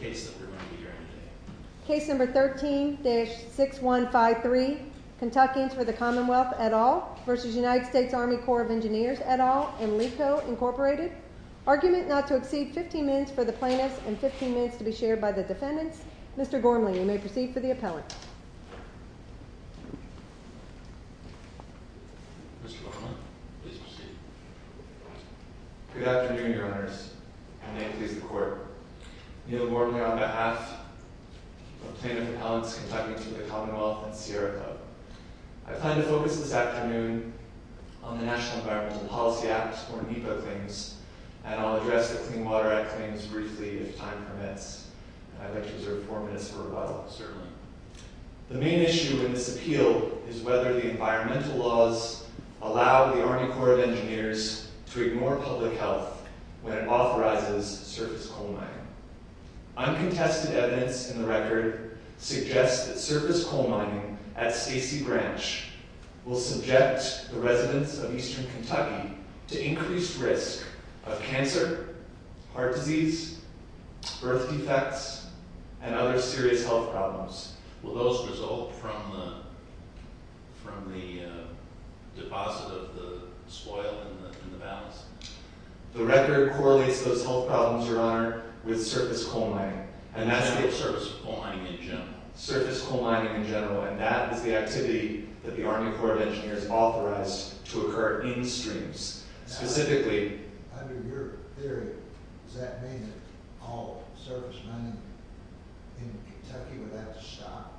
Case number 13-6153 Kentucky for the Commonwealth at all versus United States Army Corps of Engineers at all. Incorporated argument not to exceed 15 minutes for the plaintiffs and 15 minutes to be shared by the defendants. Mr Gormley, you may proceed for the appellate. Good afternoon, Your Honors, and may it please the Court. Neal Gormley on behalf of Plaintiff Appellants Kentucky for the Commonwealth and Sierra Club. I plan to focus this afternoon on the National Environmental Policy Act, or NEPA, claims, and I'll address the Clean Water Act claims briefly if time permits. I'd like to reserve four minutes for rebuttal. The main issue in this appeal is whether the environmental laws allow the Army Corps of Engineers to ignore public health when it authorizes surface coal mining. Uncontested evidence in the record suggests that surface coal mining at Stacy Branch will subject the residents of eastern Kentucky to increased risk of cancer, heart disease, birth defects, and other serious health problems. Will those result from the deposit of the spoil in the bowels? The record correlates those health problems, Your Honor, with surface coal mining, and that's the activity that the Army Corps of Engineers authorized to occur in streams. Under your theory, does that mean that all surface mining in Kentucky would have to stop?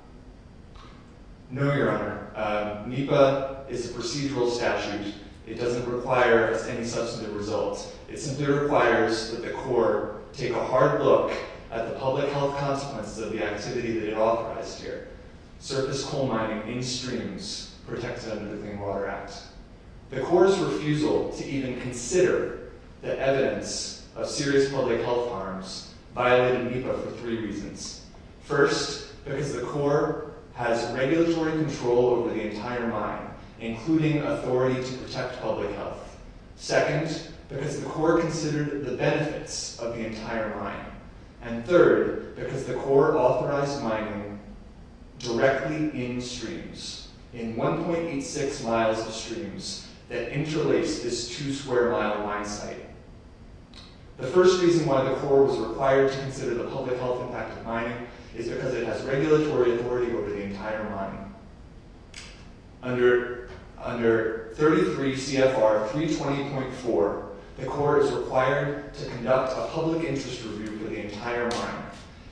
No, Your Honor. NEPA is a procedural statute. It doesn't require any substantive results. It simply requires that the Corps take a hard look at the public health consequences of the activity that it authorized here—surface coal mining in streams protected under the Clean Water Act. The Corps' refusal to even consider the evidence of serious public health harms violated NEPA for three reasons. First, because the Corps has regulatory control over the entire mine, including authority to protect public health. Second, because the Corps considered the benefits of the entire mine. And third, because the Corps authorized mining directly in streams—in 1.86 miles of streams that interlace this two-square-mile mine site. The first reason why the Corps was required to consider the public health impact of mining is because it has regulatory authority over the entire mine. Under 33 CFR 320.4, the Corps is required to conduct a public interest review of the entire mine.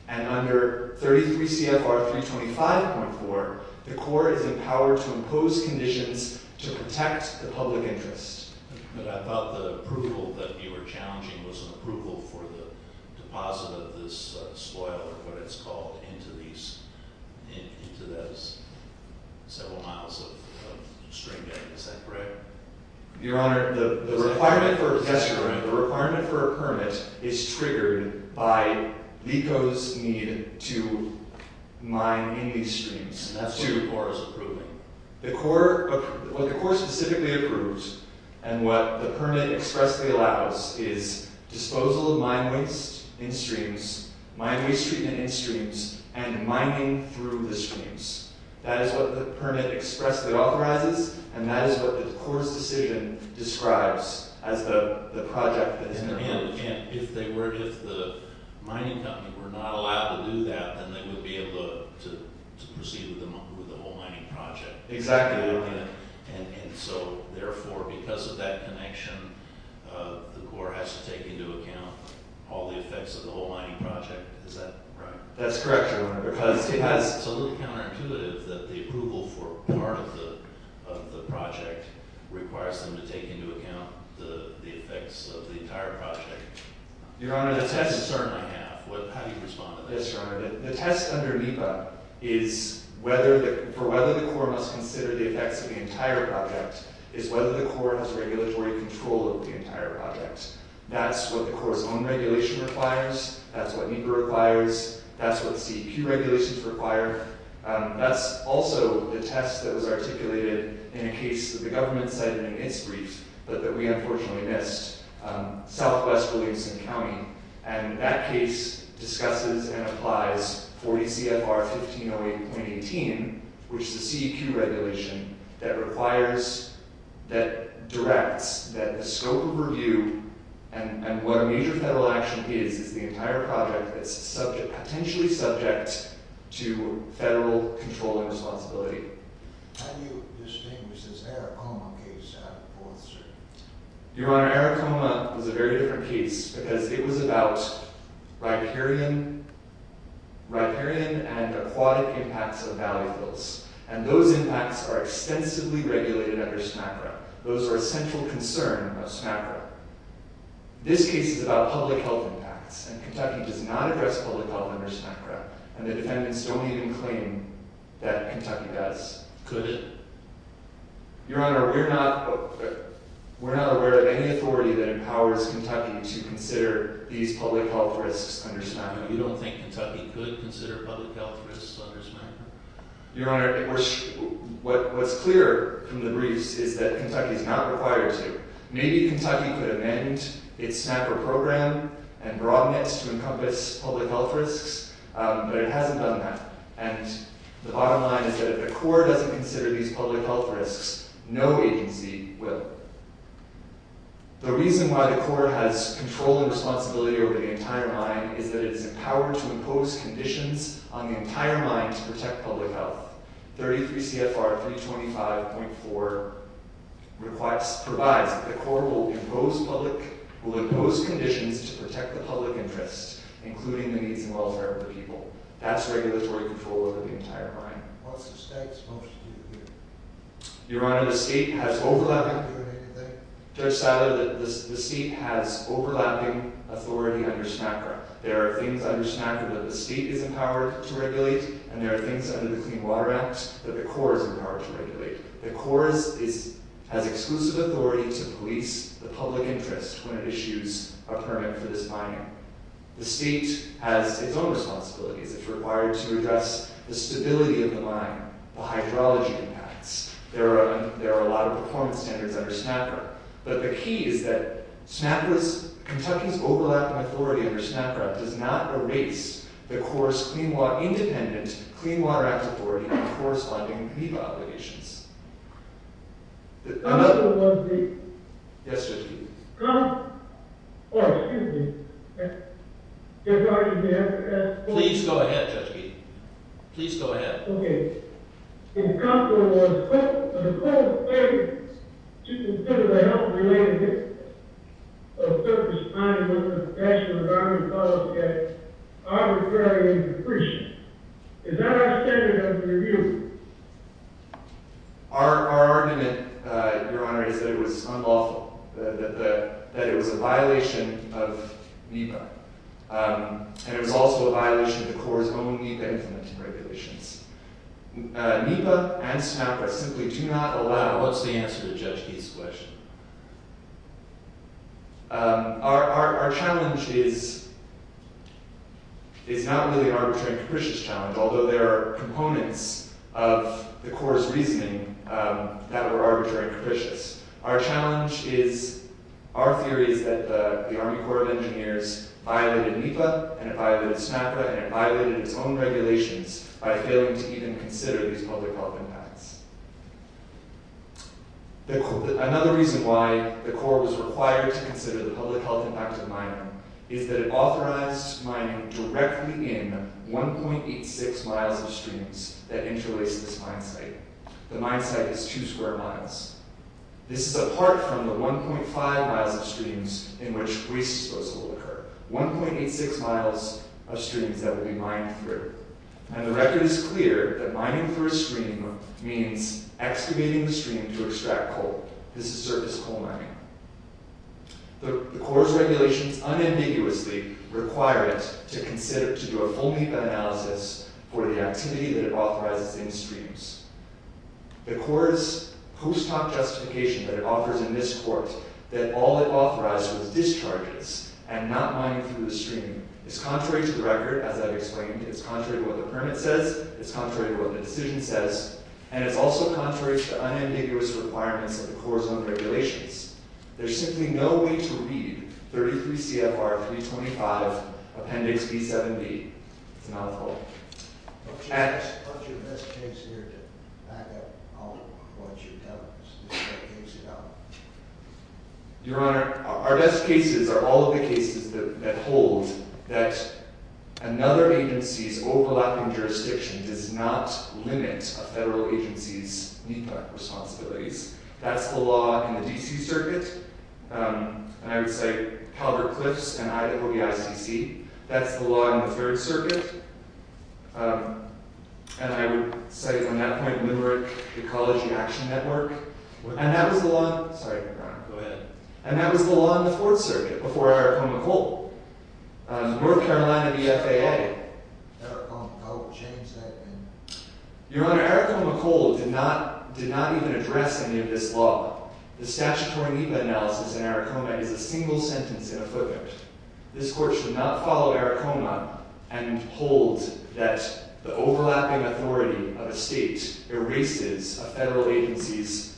And under 33 CFR 325.4, the Corps is empowered to impose conditions to protect the public interest. But I thought the approval that you were challenging was an approval for the deposit of this soil, or what it's called, into these—into those several miles of streambed. Is that correct? Your Honor, the requirement for a permit is triggered by LECO's need to mine in these streams. And that's what the Corps is approving? The Corps—what the Corps specifically approves, and what the permit expressly allows, is disposal of mine waste in streams, mine waste treatment in streams, and mining through the streams. That is what the permit expressly authorizes, and that is what the Corps' decision describes as the project that has been approved. If the mining company were not allowed to do that, then they would be able to proceed with the whole mining project. Exactly. And so, therefore, because of that connection, the Corps has to take into account all the effects of the whole mining project. Is that right? That's correct, Your Honor. It's a little counterintuitive that the approval for part of the project requires them to take into account the effects of the entire project. Your Honor, the test— It's certainly half. How do you respond to this? Yes, Your Honor. The test under NEPA is whether—for whether the Corps must consider the effects of the entire project is whether the Corps has regulatory control of the entire project. That's what the Corps' own regulation requires. That's what NEPA requires. That's what CEQ regulations require. That's also the test that was articulated in a case that the government cited in its brief, but that we unfortunately missed, Southwest Williamson County. And that case discusses and applies 40 CFR 1508.18, which is a CEQ regulation that requires—that directs that the scope of review and what a major federal action is, is the entire project that's potentially subject to federal control and responsibility. How do you distinguish this Aracoma case out of the fourth, sir? Your Honor, Aracoma was a very different case because it was about riparian and aquatic impacts of valley flows. And those impacts are extensively regulated under SMACRA. Those are a central concern of SMACRA. This case is about public health impacts, and Kentucky does not address public health under SMACRA, and the defendants don't even claim that Kentucky does. Could it? Your Honor, we're not aware of any authority that empowers Kentucky to consider these public health risks under SMACRA. You don't think Kentucky could consider public health risks under SMACRA? Your Honor, what's clear from the briefs is that Kentucky's not required to. Maybe Kentucky could amend its SMACRA program and broaden it to encompass public health risks, but it hasn't done that. And the bottom line is that if the Corps doesn't consider these public health risks, no agency will. The reason why the Corps has control and responsibility over the entire mine is that it is empowered to impose conditions on the entire mine to protect public health. 33 CFR 325.4 provides that the Corps will impose conditions to protect the public interest, including the needs and welfare of the people. That's regulatory control over the entire mine. What's the state's motion to do here? Your Honor, the state has overlapping authority under SMACRA. There are things under SMACRA that the state is empowered to regulate, and there are things under the Clean Water Act that the Corps is empowered to regulate. The Corps has exclusive authority to police the public interest when it issues a permit for this mine. The state has its own responsibilities. It's required to address the stability of the mine, the hydrology impacts. There are a lot of performance standards under SMACRA. But the key is that Kentucky's overlapping authority under SMACRA does not erase the Corps' independent Clean Water Act authority in corresponding NEPA obligations. Another one, please. Yes, Judge Keeton. Oh, excuse me. Please go ahead, Judge Keeton. Please go ahead. Okay. In conflict with the Corps' failure to consider the health-related history of surface-mining under the National Environment Policy Act, our referral is appreciated. Is that our standard of review? Our argument, Your Honor, is that it was unlawful, that it was a violation of NEPA, and it was also a violation of the Corps' own NEPA implementing regulations. NEPA and SMACRA simply do not allow – What's the answer to Judge Keeton's question? Our challenge is not really an arbitrary and capricious challenge, although there are components of the Corps' reasoning that were arbitrary and capricious. Our challenge is – our theory is that the Army Corps of Engineers violated NEPA, and it violated SMACRA, and it violated its own regulations by failing to even consider these public health impacts. Another reason why the Corps was required to consider the public health impact of mining is that it authorized mining directly in 1.86 miles of streams that interlace this mine site. The mine site is two square miles. This is apart from the 1.5 miles of streams in which waste disposal will occur. 1.86 miles of streams that will be mined through. And the record is clear that mining through a stream means excavating the stream to extract coal. This is surface coal mining. The Corps' regulations unambiguously require it to do a full NEPA analysis for the activity that it authorizes in streams. The Corps' post hoc justification that it offers in this court that all it authorizes was discharges and not mining through the stream is contrary to the record, as I've explained. It's contrary to what the permit says. It's contrary to what the decision says. And it's also contrary to the unambiguous requirements of the Corps' own regulations. There's simply no way to read 33 CFR 325 Appendix B7B. It's a mouthful. What's your best case narrative? Your Honor, our best cases are all of the cases that hold that another agency's overlapping jurisdiction does not limit a federal agency's NEPA responsibilities. That's the law in the D.C. Circuit. And I would say Calvert-Cliffs and Idaho v. ICC. That's the law in the Third Circuit. And I would cite from that point Newark Ecology Action Network. And that was the law in the Fourth Circuit before Aracoma Coal. North Carolina v. FAA. Your Honor, Aracoma Coal did not even address any of this law. The statutory NEPA analysis in Aracoma is a single sentence in a footnote. This Court should not follow Aracoma and hold that the overlapping authority of a state erases a federal agency's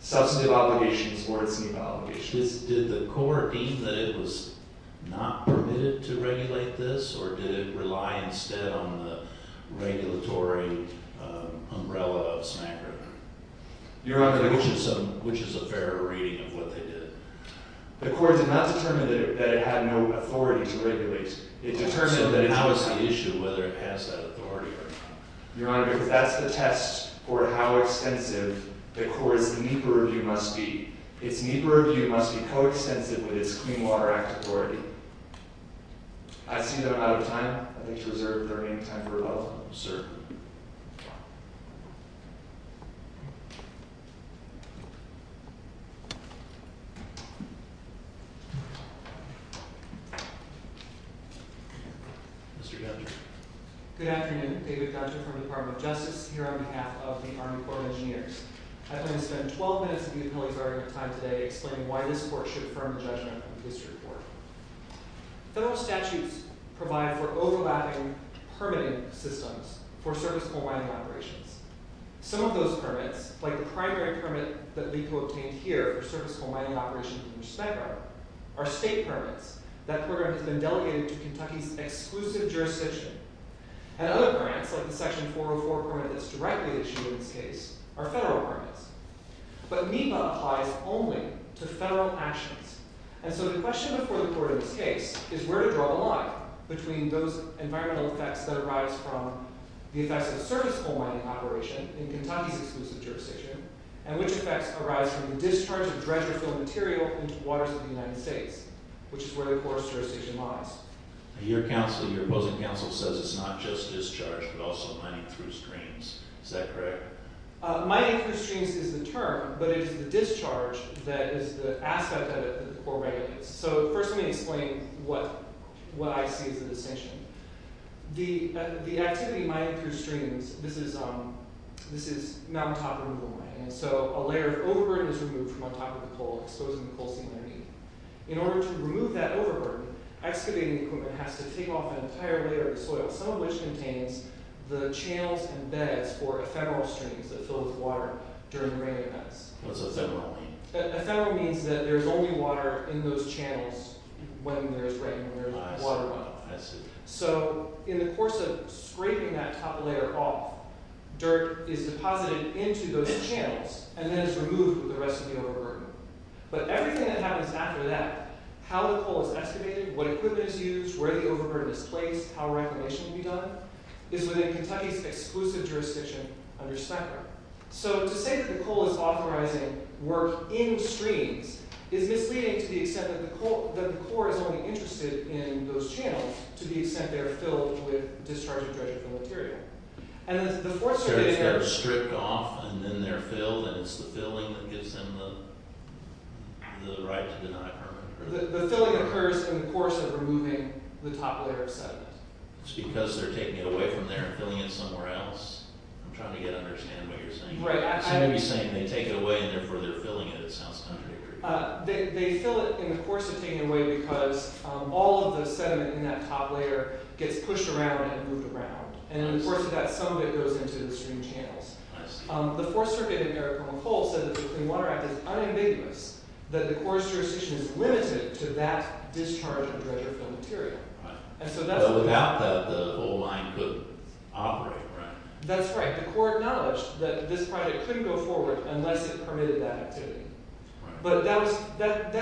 substantive obligations or its NEPA obligations. Did the Court deem that it was not permitted to regulate this? Or did it rely instead on the regulatory umbrella of SMAGRA? Your Honor, which is a fairer reading of what they did? The Court did not determine that it had no authority to regulate. It determined that it was the issue whether it passed that authority or not. Your Honor, if that's the test for how extensive the Court's NEPA review must be, its NEPA review must be coextensive with its Clean Water Act authority. I see that I'm out of time. I'd like to reserve the remaining time for rebuttal. Sir. Mr. Dodger. Good afternoon. David Dodger from the Department of Justice here on behalf of the Army Corps of Engineers. I plan to spend 12 minutes of the appellee's argument time today explaining why this Court should affirm the judgment of the District Court. Federal statutes provide for overlapping permitting systems for service coal mining operations. Some of those permits, like the primary permit that LICO obtained here for service coal mining operations under SMAGRA, are state permits. That program has been delegated to Kentucky's exclusive jurisdiction. And other grants, like the Section 404 permit that's directly issued in this case, are federal permits. But NEPA applies only to federal actions. And so the question before the Court in this case is where to draw a line between those environmental effects that arise from the effects of service coal mining operations in Kentucky's exclusive jurisdiction and which effects arise from the discharge of dredger-filled material into the waters of the United States, which is where the Court's jurisdiction lies. Your opposing counsel says it's not just discharge but also mining through streams. Is that correct? Mining through streams is the term, but it is the discharge that is the aspect of it that the Court regulates. So first let me explain what I see as the distinction. The activity mined through streams, this is mountaintop removal mining. And so a layer of overburden is removed from on top of the coal, exposing the coal seam underneath. In order to remove that overburden, excavating equipment has to take off an entire layer of soil, some of which contains the channels and beds for ephemeral streams that fill with water during the rain events. What's ephemeral mean? Ephemeral means that there's only water in those channels when there's rain, when there's water level. So in the course of scraping that top layer off, dirt is deposited into those channels and then is removed with the rest of the overburden. But everything that happens after that, how the coal is excavated, what equipment is used, where the overburden is placed, how reclamation can be done, is within Kentucky's exclusive jurisdiction under SPECRA. So to say that the coal is authorizing work in streams is misleading to the extent that the Corps is only interested in those channels to the extent they're filled with discharging dredging from the material. And then the forced- So it's stripped off and then they're filled and it's the filling that gives them the right to deny permit. The filling occurs in the course of removing the top layer of sediment. It's because they're taking it away from there and filling it somewhere else? I'm trying to get to understand what you're saying. Right, I- Somebody's saying they take it away and therefore they're filling it. It sounds contradictory. They fill it in the course of taking it away because all of the sediment in that top layer gets pushed around and moved around. And in the course of that, some of it goes into the stream channels. I see. The Fourth Circuit, in their report, said that the Clean Water Act is unambiguous, that the Corps' jurisdiction is limited to that discharge of dredger-filled material. But without that, the whole line couldn't operate, right? That's right. The Corps acknowledged that this project couldn't go forward unless it permitted that activity. But that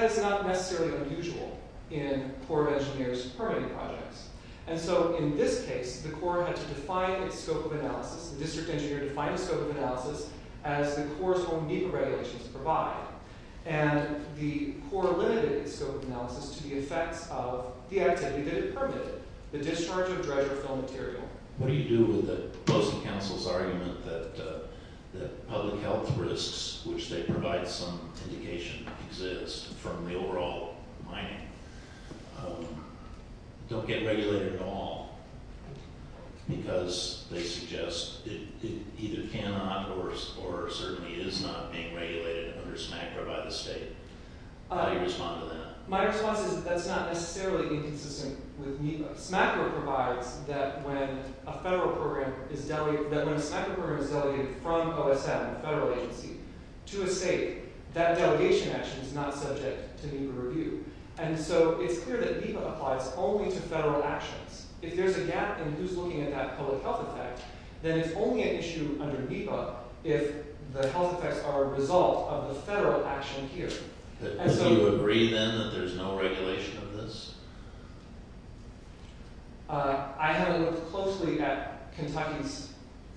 is not necessarily unusual in Corps of Engineers permitting projects. And so in this case, the Corps had to define its scope of analysis. The district engineer defined the scope of analysis as the Corps' own NEPA regulations provide. And the Corps limited its scope of analysis to the effects of the activity that it permitted, the discharge of dredger-filled material. What do you do with the Postal Council's argument that public health risks, which they provide some indication exist from the overall mining, don't get regulated at all? Because they suggest it either cannot or certainly is not being regulated under SMACRA by the state. How do you respond to that? My response is that that's not necessarily inconsistent with NEPA. SMACRA provides that when a federal program is delegated – that when a SMACRA program is delegated from OSM, a federal agency, to a state, that delegation action is not subject to NEPA review. And so it's clear that NEPA applies only to federal actions. If there's a gap in who's looking at that public health effect, then it's only an issue under NEPA if the health effects are a result of the federal action here. Do you agree, then, that there's no regulation of this? I haven't looked closely at Kentucky's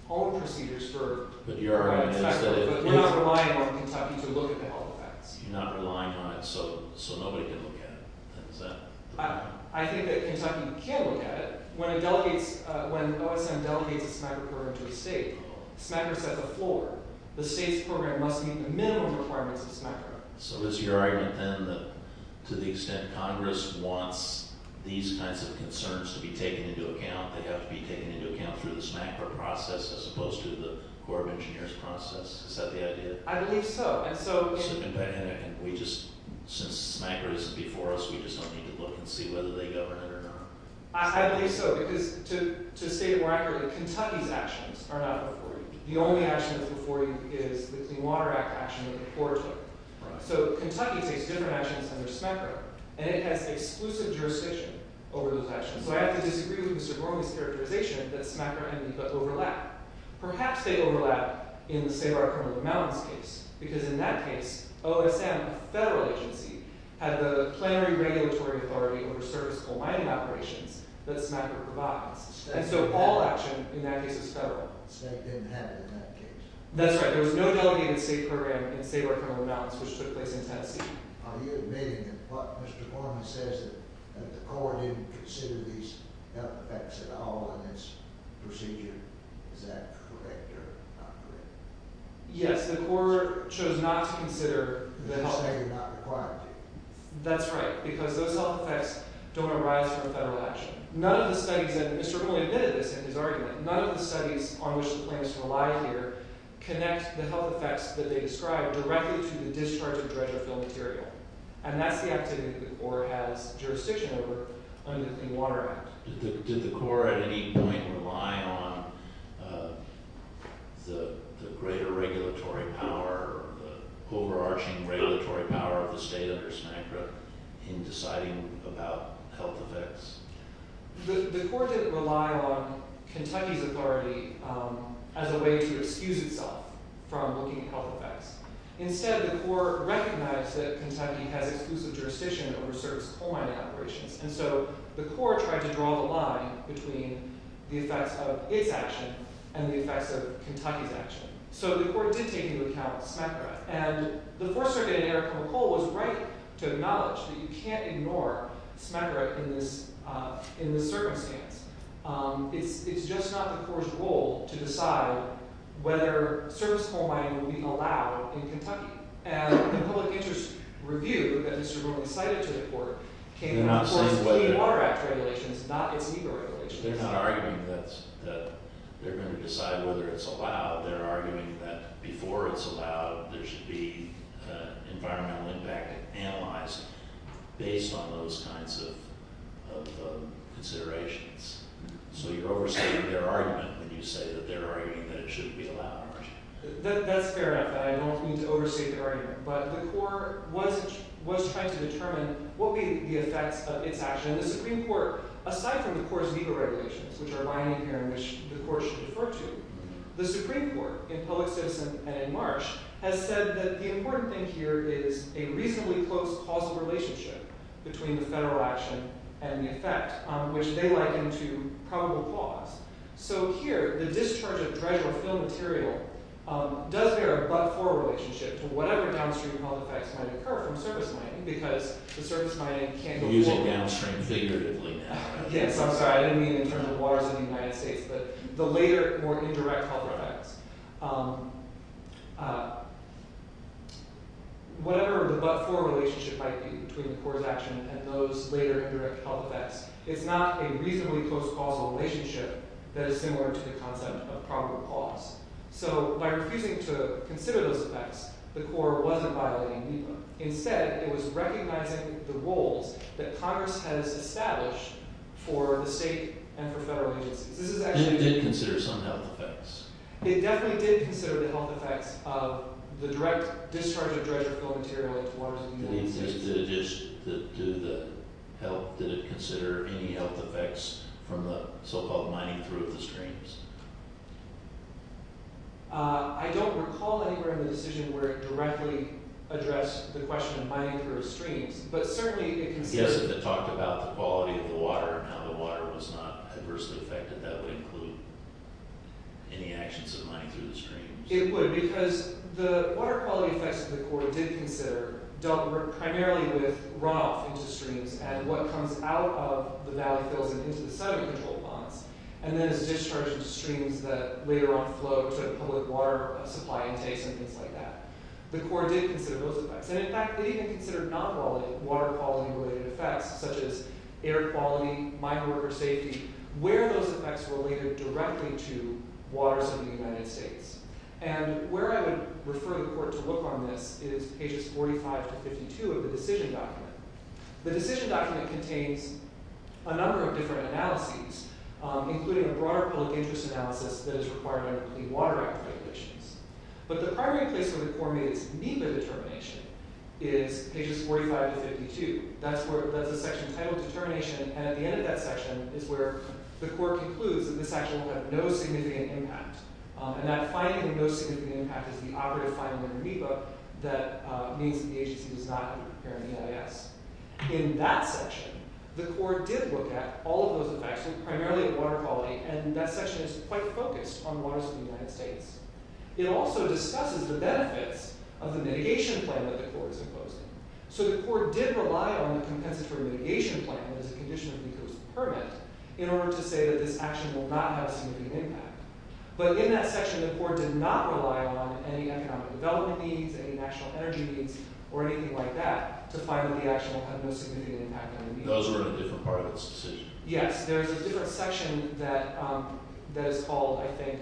own procedures for – But your argument is that it – We're not relying on Kentucky to look at the health effects. You're not relying on it so nobody can look at it. Is that the point? I think that Kentucky can look at it. When it delegates – when OSM delegates a SMACRA program to a state, SMACRA sets the floor. The state's program must meet the minimum requirements of SMACRA. So is your argument, then, that to the extent Congress wants these kinds of concerns to be taken into account, they have to be taken into account through the SMACRA process as opposed to the Corps of Engineers process? Is that the idea? I believe so. And so – And we just – since SMACRA isn't before us, we just don't need to look and see whether they govern it or not. I believe so, because to state it more accurately, Kentucky's actions are not before you. The only action that's before you is the Clean Water Act action that the Corps took. So Kentucky takes different actions under SMACRA, and it has exclusive jurisdiction over those actions. So I have to disagree with Mr. Gormley's characterization that SMACRA and NEPA overlap. Perhaps they overlap in the Save Our Criminal Mounds case, because in that case, OSM, a federal agency, had the plenary regulatory authority over serviceable mining operations that SMACRA provides. And so all action in that case is federal. The state didn't have it in that case. That's right. There was no delegated state program in Save Our Criminal Mounds, which took place in Tennessee. Are you admitting that what Mr. Gormley says, that the Corps didn't consider these health effects at all in this procedure, is that correct or not correct? Yes, the Corps chose not to consider the health effects. They're saying not required to. That's right, because those health effects don't arise from federal action. None of the studies – and Mr. Gormley admitted this in his argument – none of the studies on which the plaintiffs rely here connect the health effects that they describe directly to the discharge of dredge or fill material. And that's the activity that the Corps has jurisdiction over under the Clean Water Act. Did the Corps at any point rely on the greater regulatory power, the overarching regulatory power of the state under SMACRA in deciding about health effects? The Corps didn't rely on Kentucky's authority as a way to excuse itself from looking at health effects. Instead, the Corps recognized that Kentucky has exclusive jurisdiction over certain coal mining operations. And so the Corps tried to draw the line between the effects of its action and the effects of Kentucky's action. So the Corps did take into account SMACRA. And the Fourth Circuit in Erickson Coal was right to acknowledge that you can't ignore SMACRA in this circumstance. It's just not the Corps' role to decide whether service coal mining will be allowed in Kentucky. And the public interest review that Mr. Gormley cited to the Court came from the Court's Clean Water Act regulations, not its EGOR regulations. They're not arguing that they're going to decide whether it's allowed. They're arguing that before it's allowed, there should be environmental impact analyzed based on those kinds of considerations. So you're overstating their argument when you say that they're arguing that it shouldn't be allowed. That's fair enough, and I don't mean to overstate their argument. But the Corps was trying to determine what would be the effects of its action. And the Supreme Court, aside from the Corps' EGOR regulations, which are lying in here and which the Court should refer to, the Supreme Court, in Public Citizen and in Marsh, has said that the important thing here is a reasonably close causal relationship between the federal action and the effect, which they liken to probable cause. So here, the discharge of dredge or fill material does bear a but-for relationship to whatever downstream health effects might occur from service mining, because the service mining can't go forward. You're using downstream figuratively now. Yes, I'm sorry. I didn't mean in terms of waters in the United States, but the later, more indirect health effects. Whatever the but-for relationship might be between the Corps' action and those later indirect health effects, it's not a reasonably close causal relationship that is similar to the concept of probable cause. So by refusing to consider those effects, the Corps wasn't violating EGOR. Instead, it was recognizing the roles that Congress has established for the state and for federal agencies. This is actually— It did consider some health effects. It definitely did consider the health effects of the direct discharge of dredge or fill material into waters in the United States. Did it consider any health effects from the so-called mining through of the streams? I don't recall anywhere in the decision where it directly addressed the question of mining through of streams, but certainly it considered— Yes, it talked about the quality of the water and how the water was not adversely affected. That would include any actions of mining through the streams. It would, because the water quality effects that the Corps did consider dealt primarily with runoff into streams and what comes out of the valley fills and into the sediment control ponds, and then is discharged into streams that later on flow to the public water supply intakes and things like that. The Corps did consider those effects. In fact, it even considered non-water quality related effects such as air quality, minor river safety, where those effects related directly to waters in the United States. Where I would refer the Court to look on this is pages 45 to 52 of the decision document. The decision document contains a number of different analyses, including a broader public interest analysis that is required under the Clean Water Act regulations. But the primary place where the Corps made its NEPA determination is pages 45 to 52. That's a section titled Determination, and at the end of that section is where the Court concludes that this action will have no significant impact. And that finding of no significant impact is the operative finding under NEPA that means that the agency does not appear in the EIS. In that section, the Corps did look at all of those effects, primarily at water quality, and that section is quite focused on waters in the United States. It also discusses the benefits of the mitigation plan that the Corps is imposing. So the Corps did rely on the Compensatory Mitigation Plan as a condition of NEPA's permit in order to say that this action will not have significant impact. But in that section, the Corps did not rely on any economic development needs, any national energy needs, or anything like that to find that the action will have no significant impact under NEPA. Those were in a different part of this decision. Yes, there is a different section that is called, I think,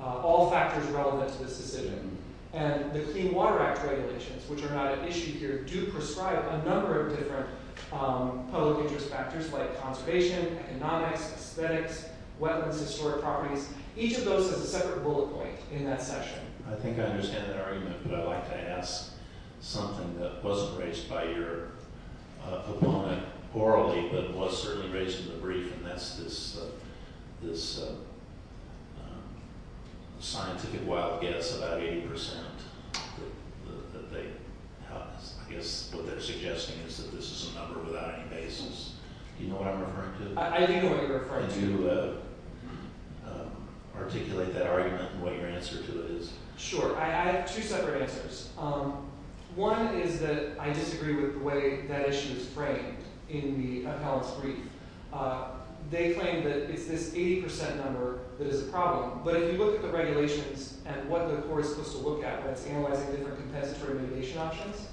All Factors Relevant to this Decision. And the Clean Water Act regulations, which are not an issue here, do prescribe a number of different public interest factors like conservation, economics, aesthetics, wetlands, historic properties. Each of those has a separate bullet point in that section. I think I understand that argument, but I'd like to ask something that wasn't raised by your opponent orally, but was certainly raised in the brief, and that's this scientific wild guess about 80% that they have. I guess what they're suggesting is that this is a number without any basis. Do you know what I'm referring to? I do know what you're referring to. Can you articulate that argument and what your answer to it is? Sure. I have two separate answers. One is that I disagree with the way that issue is framed in the appellate's brief. They claim that it's this 80% number that is a problem, but if you look at the regulations and what the Corps is supposed to look at, that's analyzing different compensatory mitigation options,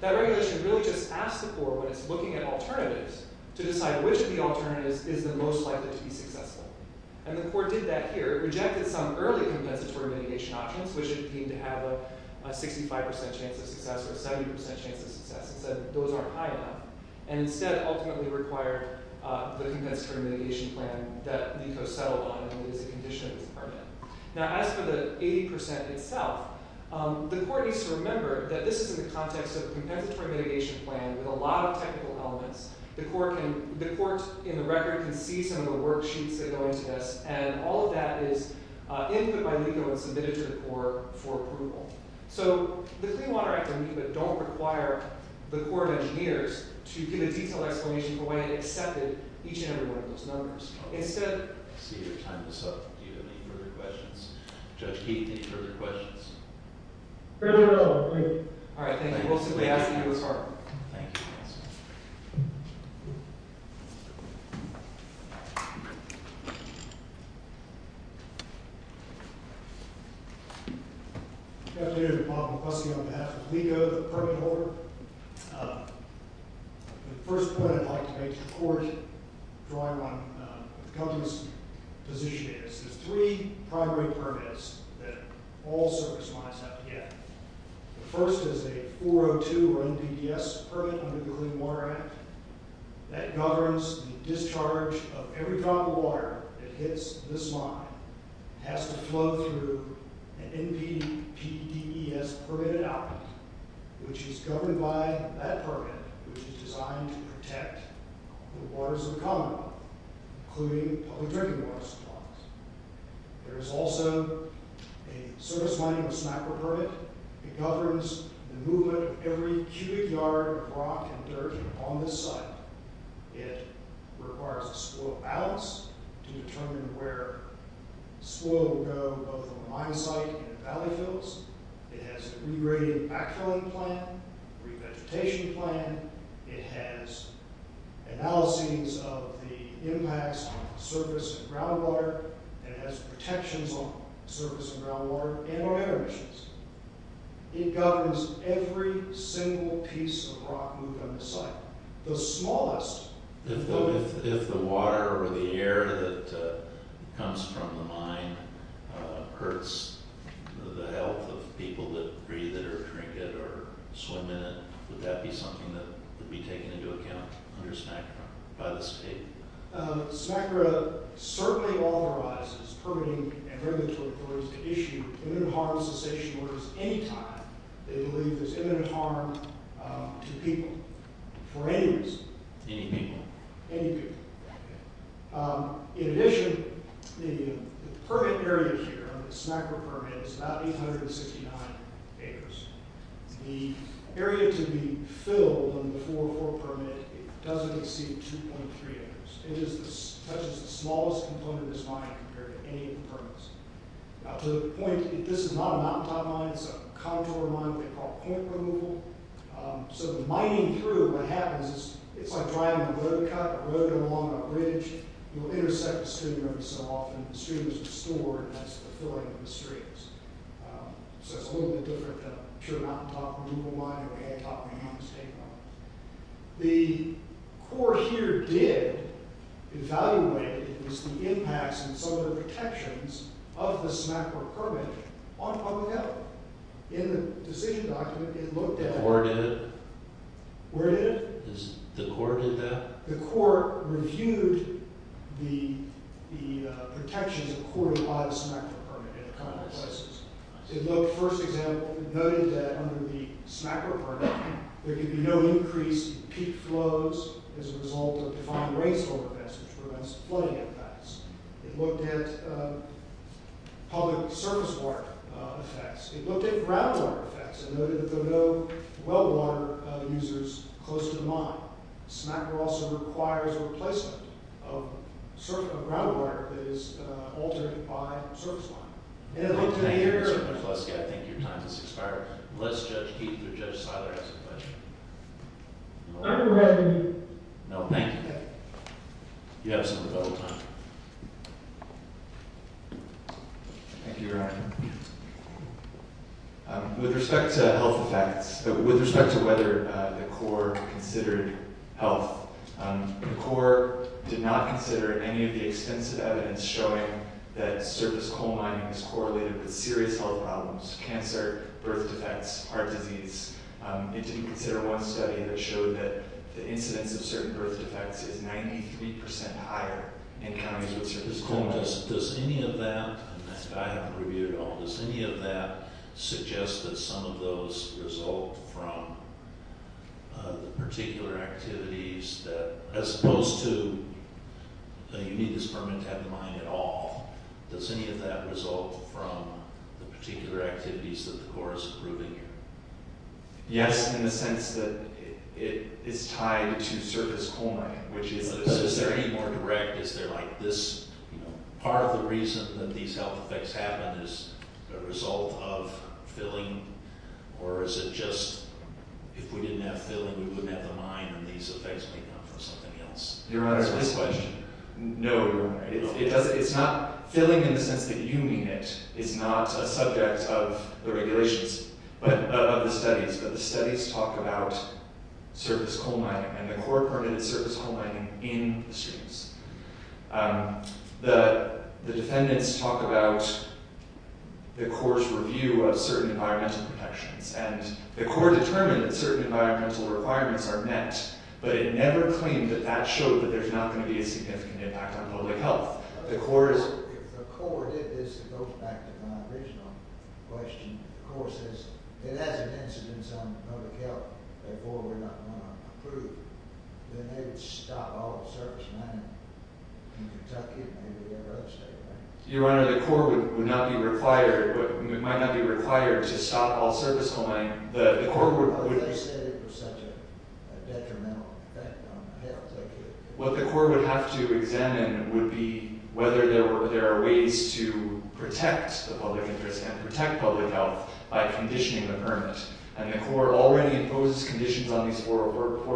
that regulation really just asks the Corps when it's looking at alternatives to decide which of the alternatives is the most likely to be successful. The Corps did that here. It rejected some early compensatory mitigation options, which it deemed to have a 65% chance of success or a 70% chance of success. It said those aren't high enough, and instead ultimately required the compensatory mitigation plan that NICO settled on and it is a condition of this department. Now, as for the 80% itself, the Corps needs to remember that this is in the context of a compensatory mitigation plan with a lot of technical elements. The Court, in the record, can see some of the worksheets that go into this, and all of that is input by NICO and submitted to the Corps for approval. So the Clean Water Act and NICO don't require the Corps of Engineers to give a detailed explanation for why it accepted each and every one of those numbers. Instead— I see your time is up. Do you have any further questions? Judge Keith, any further questions? Fairly little, I agree. All right, thank you. We'll see what happens. Thank you. Any questions? Good afternoon. Bob McCluskey on behalf of NICO, the permit holder. The first point I'd like to make to the Court, drawing on the company's position, is there's three primary permits that all service lines have to get. The first is a 402 or NPDES permit under the Clean Water Act that governs the discharge of every drop of water that hits this line. It has to flow through an NPDES permitted outlet, which is governed by that permit, which is designed to protect the waters of the Commonwealth, including public drinking water supplies. There is also a service line with SNAPA permit. It governs the movement of every cubic yard of rock and dirt on this site. It requires a soil balance to determine where soil will go, both on the mine site and the valley fields. It has a regraded backfilling plan, re-vegetation plan. It has analyses of the impacts on the surface and groundwater. It has protections on the surface and groundwater and our air emissions. It governs every single piece of rock moved on this site, the smallest. If the water or the air that comes from the mine hurts the health of people that breathe it would be taken into account under SNAPA by the state. SNAPA certainly authorizes permitting and regulatory authorities to issue imminent harm cessation orders anytime they believe there's imminent harm to people for any reason. Any people? Any people. In addition, the permit area here under the SNAPA permit is about 869 acres. The area to be filled under the 404 permit doesn't exceed 2.3 acres. That is the smallest component of this mine compared to any of the permits. Now to the point, this is not a mountaintop mine. It's a contour mine that we call point removal. So the mining through, what happens is it's like driving a road cut. The road goes along a bridge. It will intersect the stream every so often. The stream is restored and that's the filling of the streams. So it's a little bit different than, I'm sure, a mountaintop removal mine or a hand-top removal mine. The court here did evaluate the impacts and some of the protections of the SNAPA permit on public health. In the decision document, it looked at- The court did? The court did. The court did that? The court reviewed the protections accorded by the SNAPA permit in a couple of places. It looked, first example, it noted that under the SNAPA permit there can be no increase in peak flows as a result of defined rainfall events which prevents flooding effects. It looked at public surface water effects. It looked at groundwater effects and noted that there were no well water users close to the mine. SNAPA also requires a replacement of groundwater that is altered by surface water. It looked at- Thank you, Mr. McFluskey. I think your time has expired. Unless Judge Keith or Judge Seiler has a question. I have a question. No, thank you. You have some rebuttal time. Thank you, Your Honor. With respect to health effects, with respect to whether the court considered health, the court did not consider any of the extensive evidence showing that surface coal mining is correlated with serious health problems, cancer, birth defects, heart disease. It didn't consider one study that showed that the incidence of certain birth defects is 93% higher in counties with surface coal mining. Does any of that- I haven't reviewed it at all. Does any of that suggest that some of those result from the particular activities that- as opposed to you need this permit to have the mine at all. Does any of that result from the particular activities that the court is approving here? Yes, in the sense that it's tied to surface coal mining, which is- Is it more direct? Is there like this- Part of the reason that these health effects happen is a result of filling, or is it just if we didn't have filling, we wouldn't have the mine and these effects may come from something else? Your Honor, this question- No, Your Honor. It's not- Filling in the sense that you mean it is not a subject of the regulations, of the studies, but the studies talk about surface coal mining and the court permitted surface coal mining in the streets. The defendants talk about the court's review of certain environmental protections and the court determined that certain environmental requirements are met, but it never claimed that that showed that there's not going to be a significant impact on public health. The court- If the court did this, it goes back to my original question. If the court says it has an incidence on public health, therefore we're not going to approve, then they would stop all surface mining in Kentucky and maybe every other state, right? Your Honor, the court would not be required- might not be required to stop all surface coal mining. The court would- But they said it was such a detrimental effect on health. What the court would have to examine would be whether there are ways to protect the public interest and protect public health by conditioning the permit. And the court already imposes conditions on these four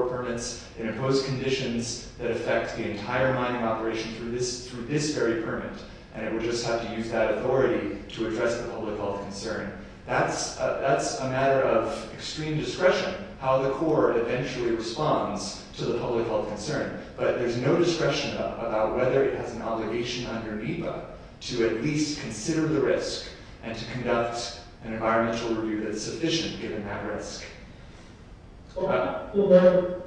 permits. It imposed conditions that affect the entire mining operation through this very permit. And it would just have to use that authority to address the public health concern. That's a matter of extreme discretion, how the court eventually responds to the public health concern. But there's no discretion about whether it has an obligation under NEPA to at least consider the risk and to conduct an environmental review that's sufficient given that risk. Okay. But- But- But- But-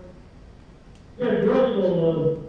But- But- But-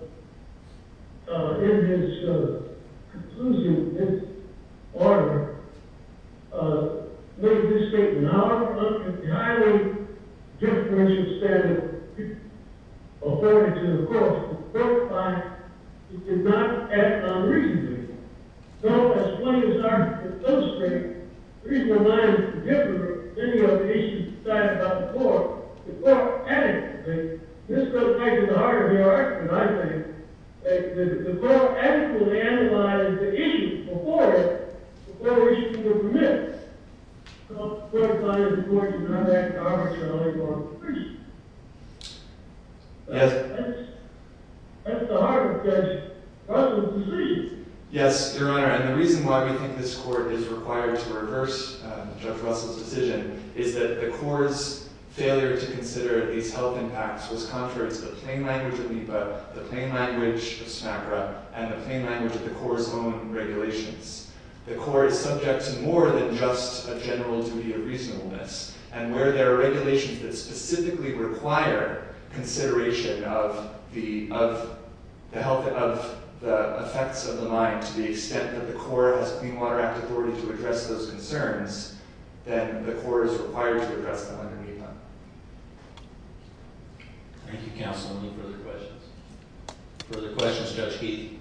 Yes. Yes, Your Honor. And the reason why we think this court is required to reverse Judge Russell's decision is that the court's failure to consider these health impacts was contrary to the plain language of NEPA, the plain language of SNAPRA, and the plain language of the court's own regulations. The court is subject to more than just a general duty of reasonableness. And where there are regulations that specifically require consideration of the health of the effects of the mine to the extent that the court has Clean Water Act authority to address those concerns, then the court is required to address them under NEPA. Thank you, counsel. Any further questions? Further questions, Judge Heath?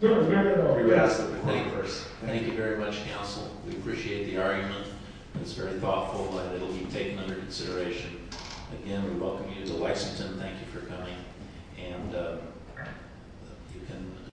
Your Honor, may I- You may ask the question first. Thank you very much, counsel. We appreciate the argument. It's very thoughtful. It will be taken under consideration. Again, we welcome you to Leisington. Thank you for coming. And you can-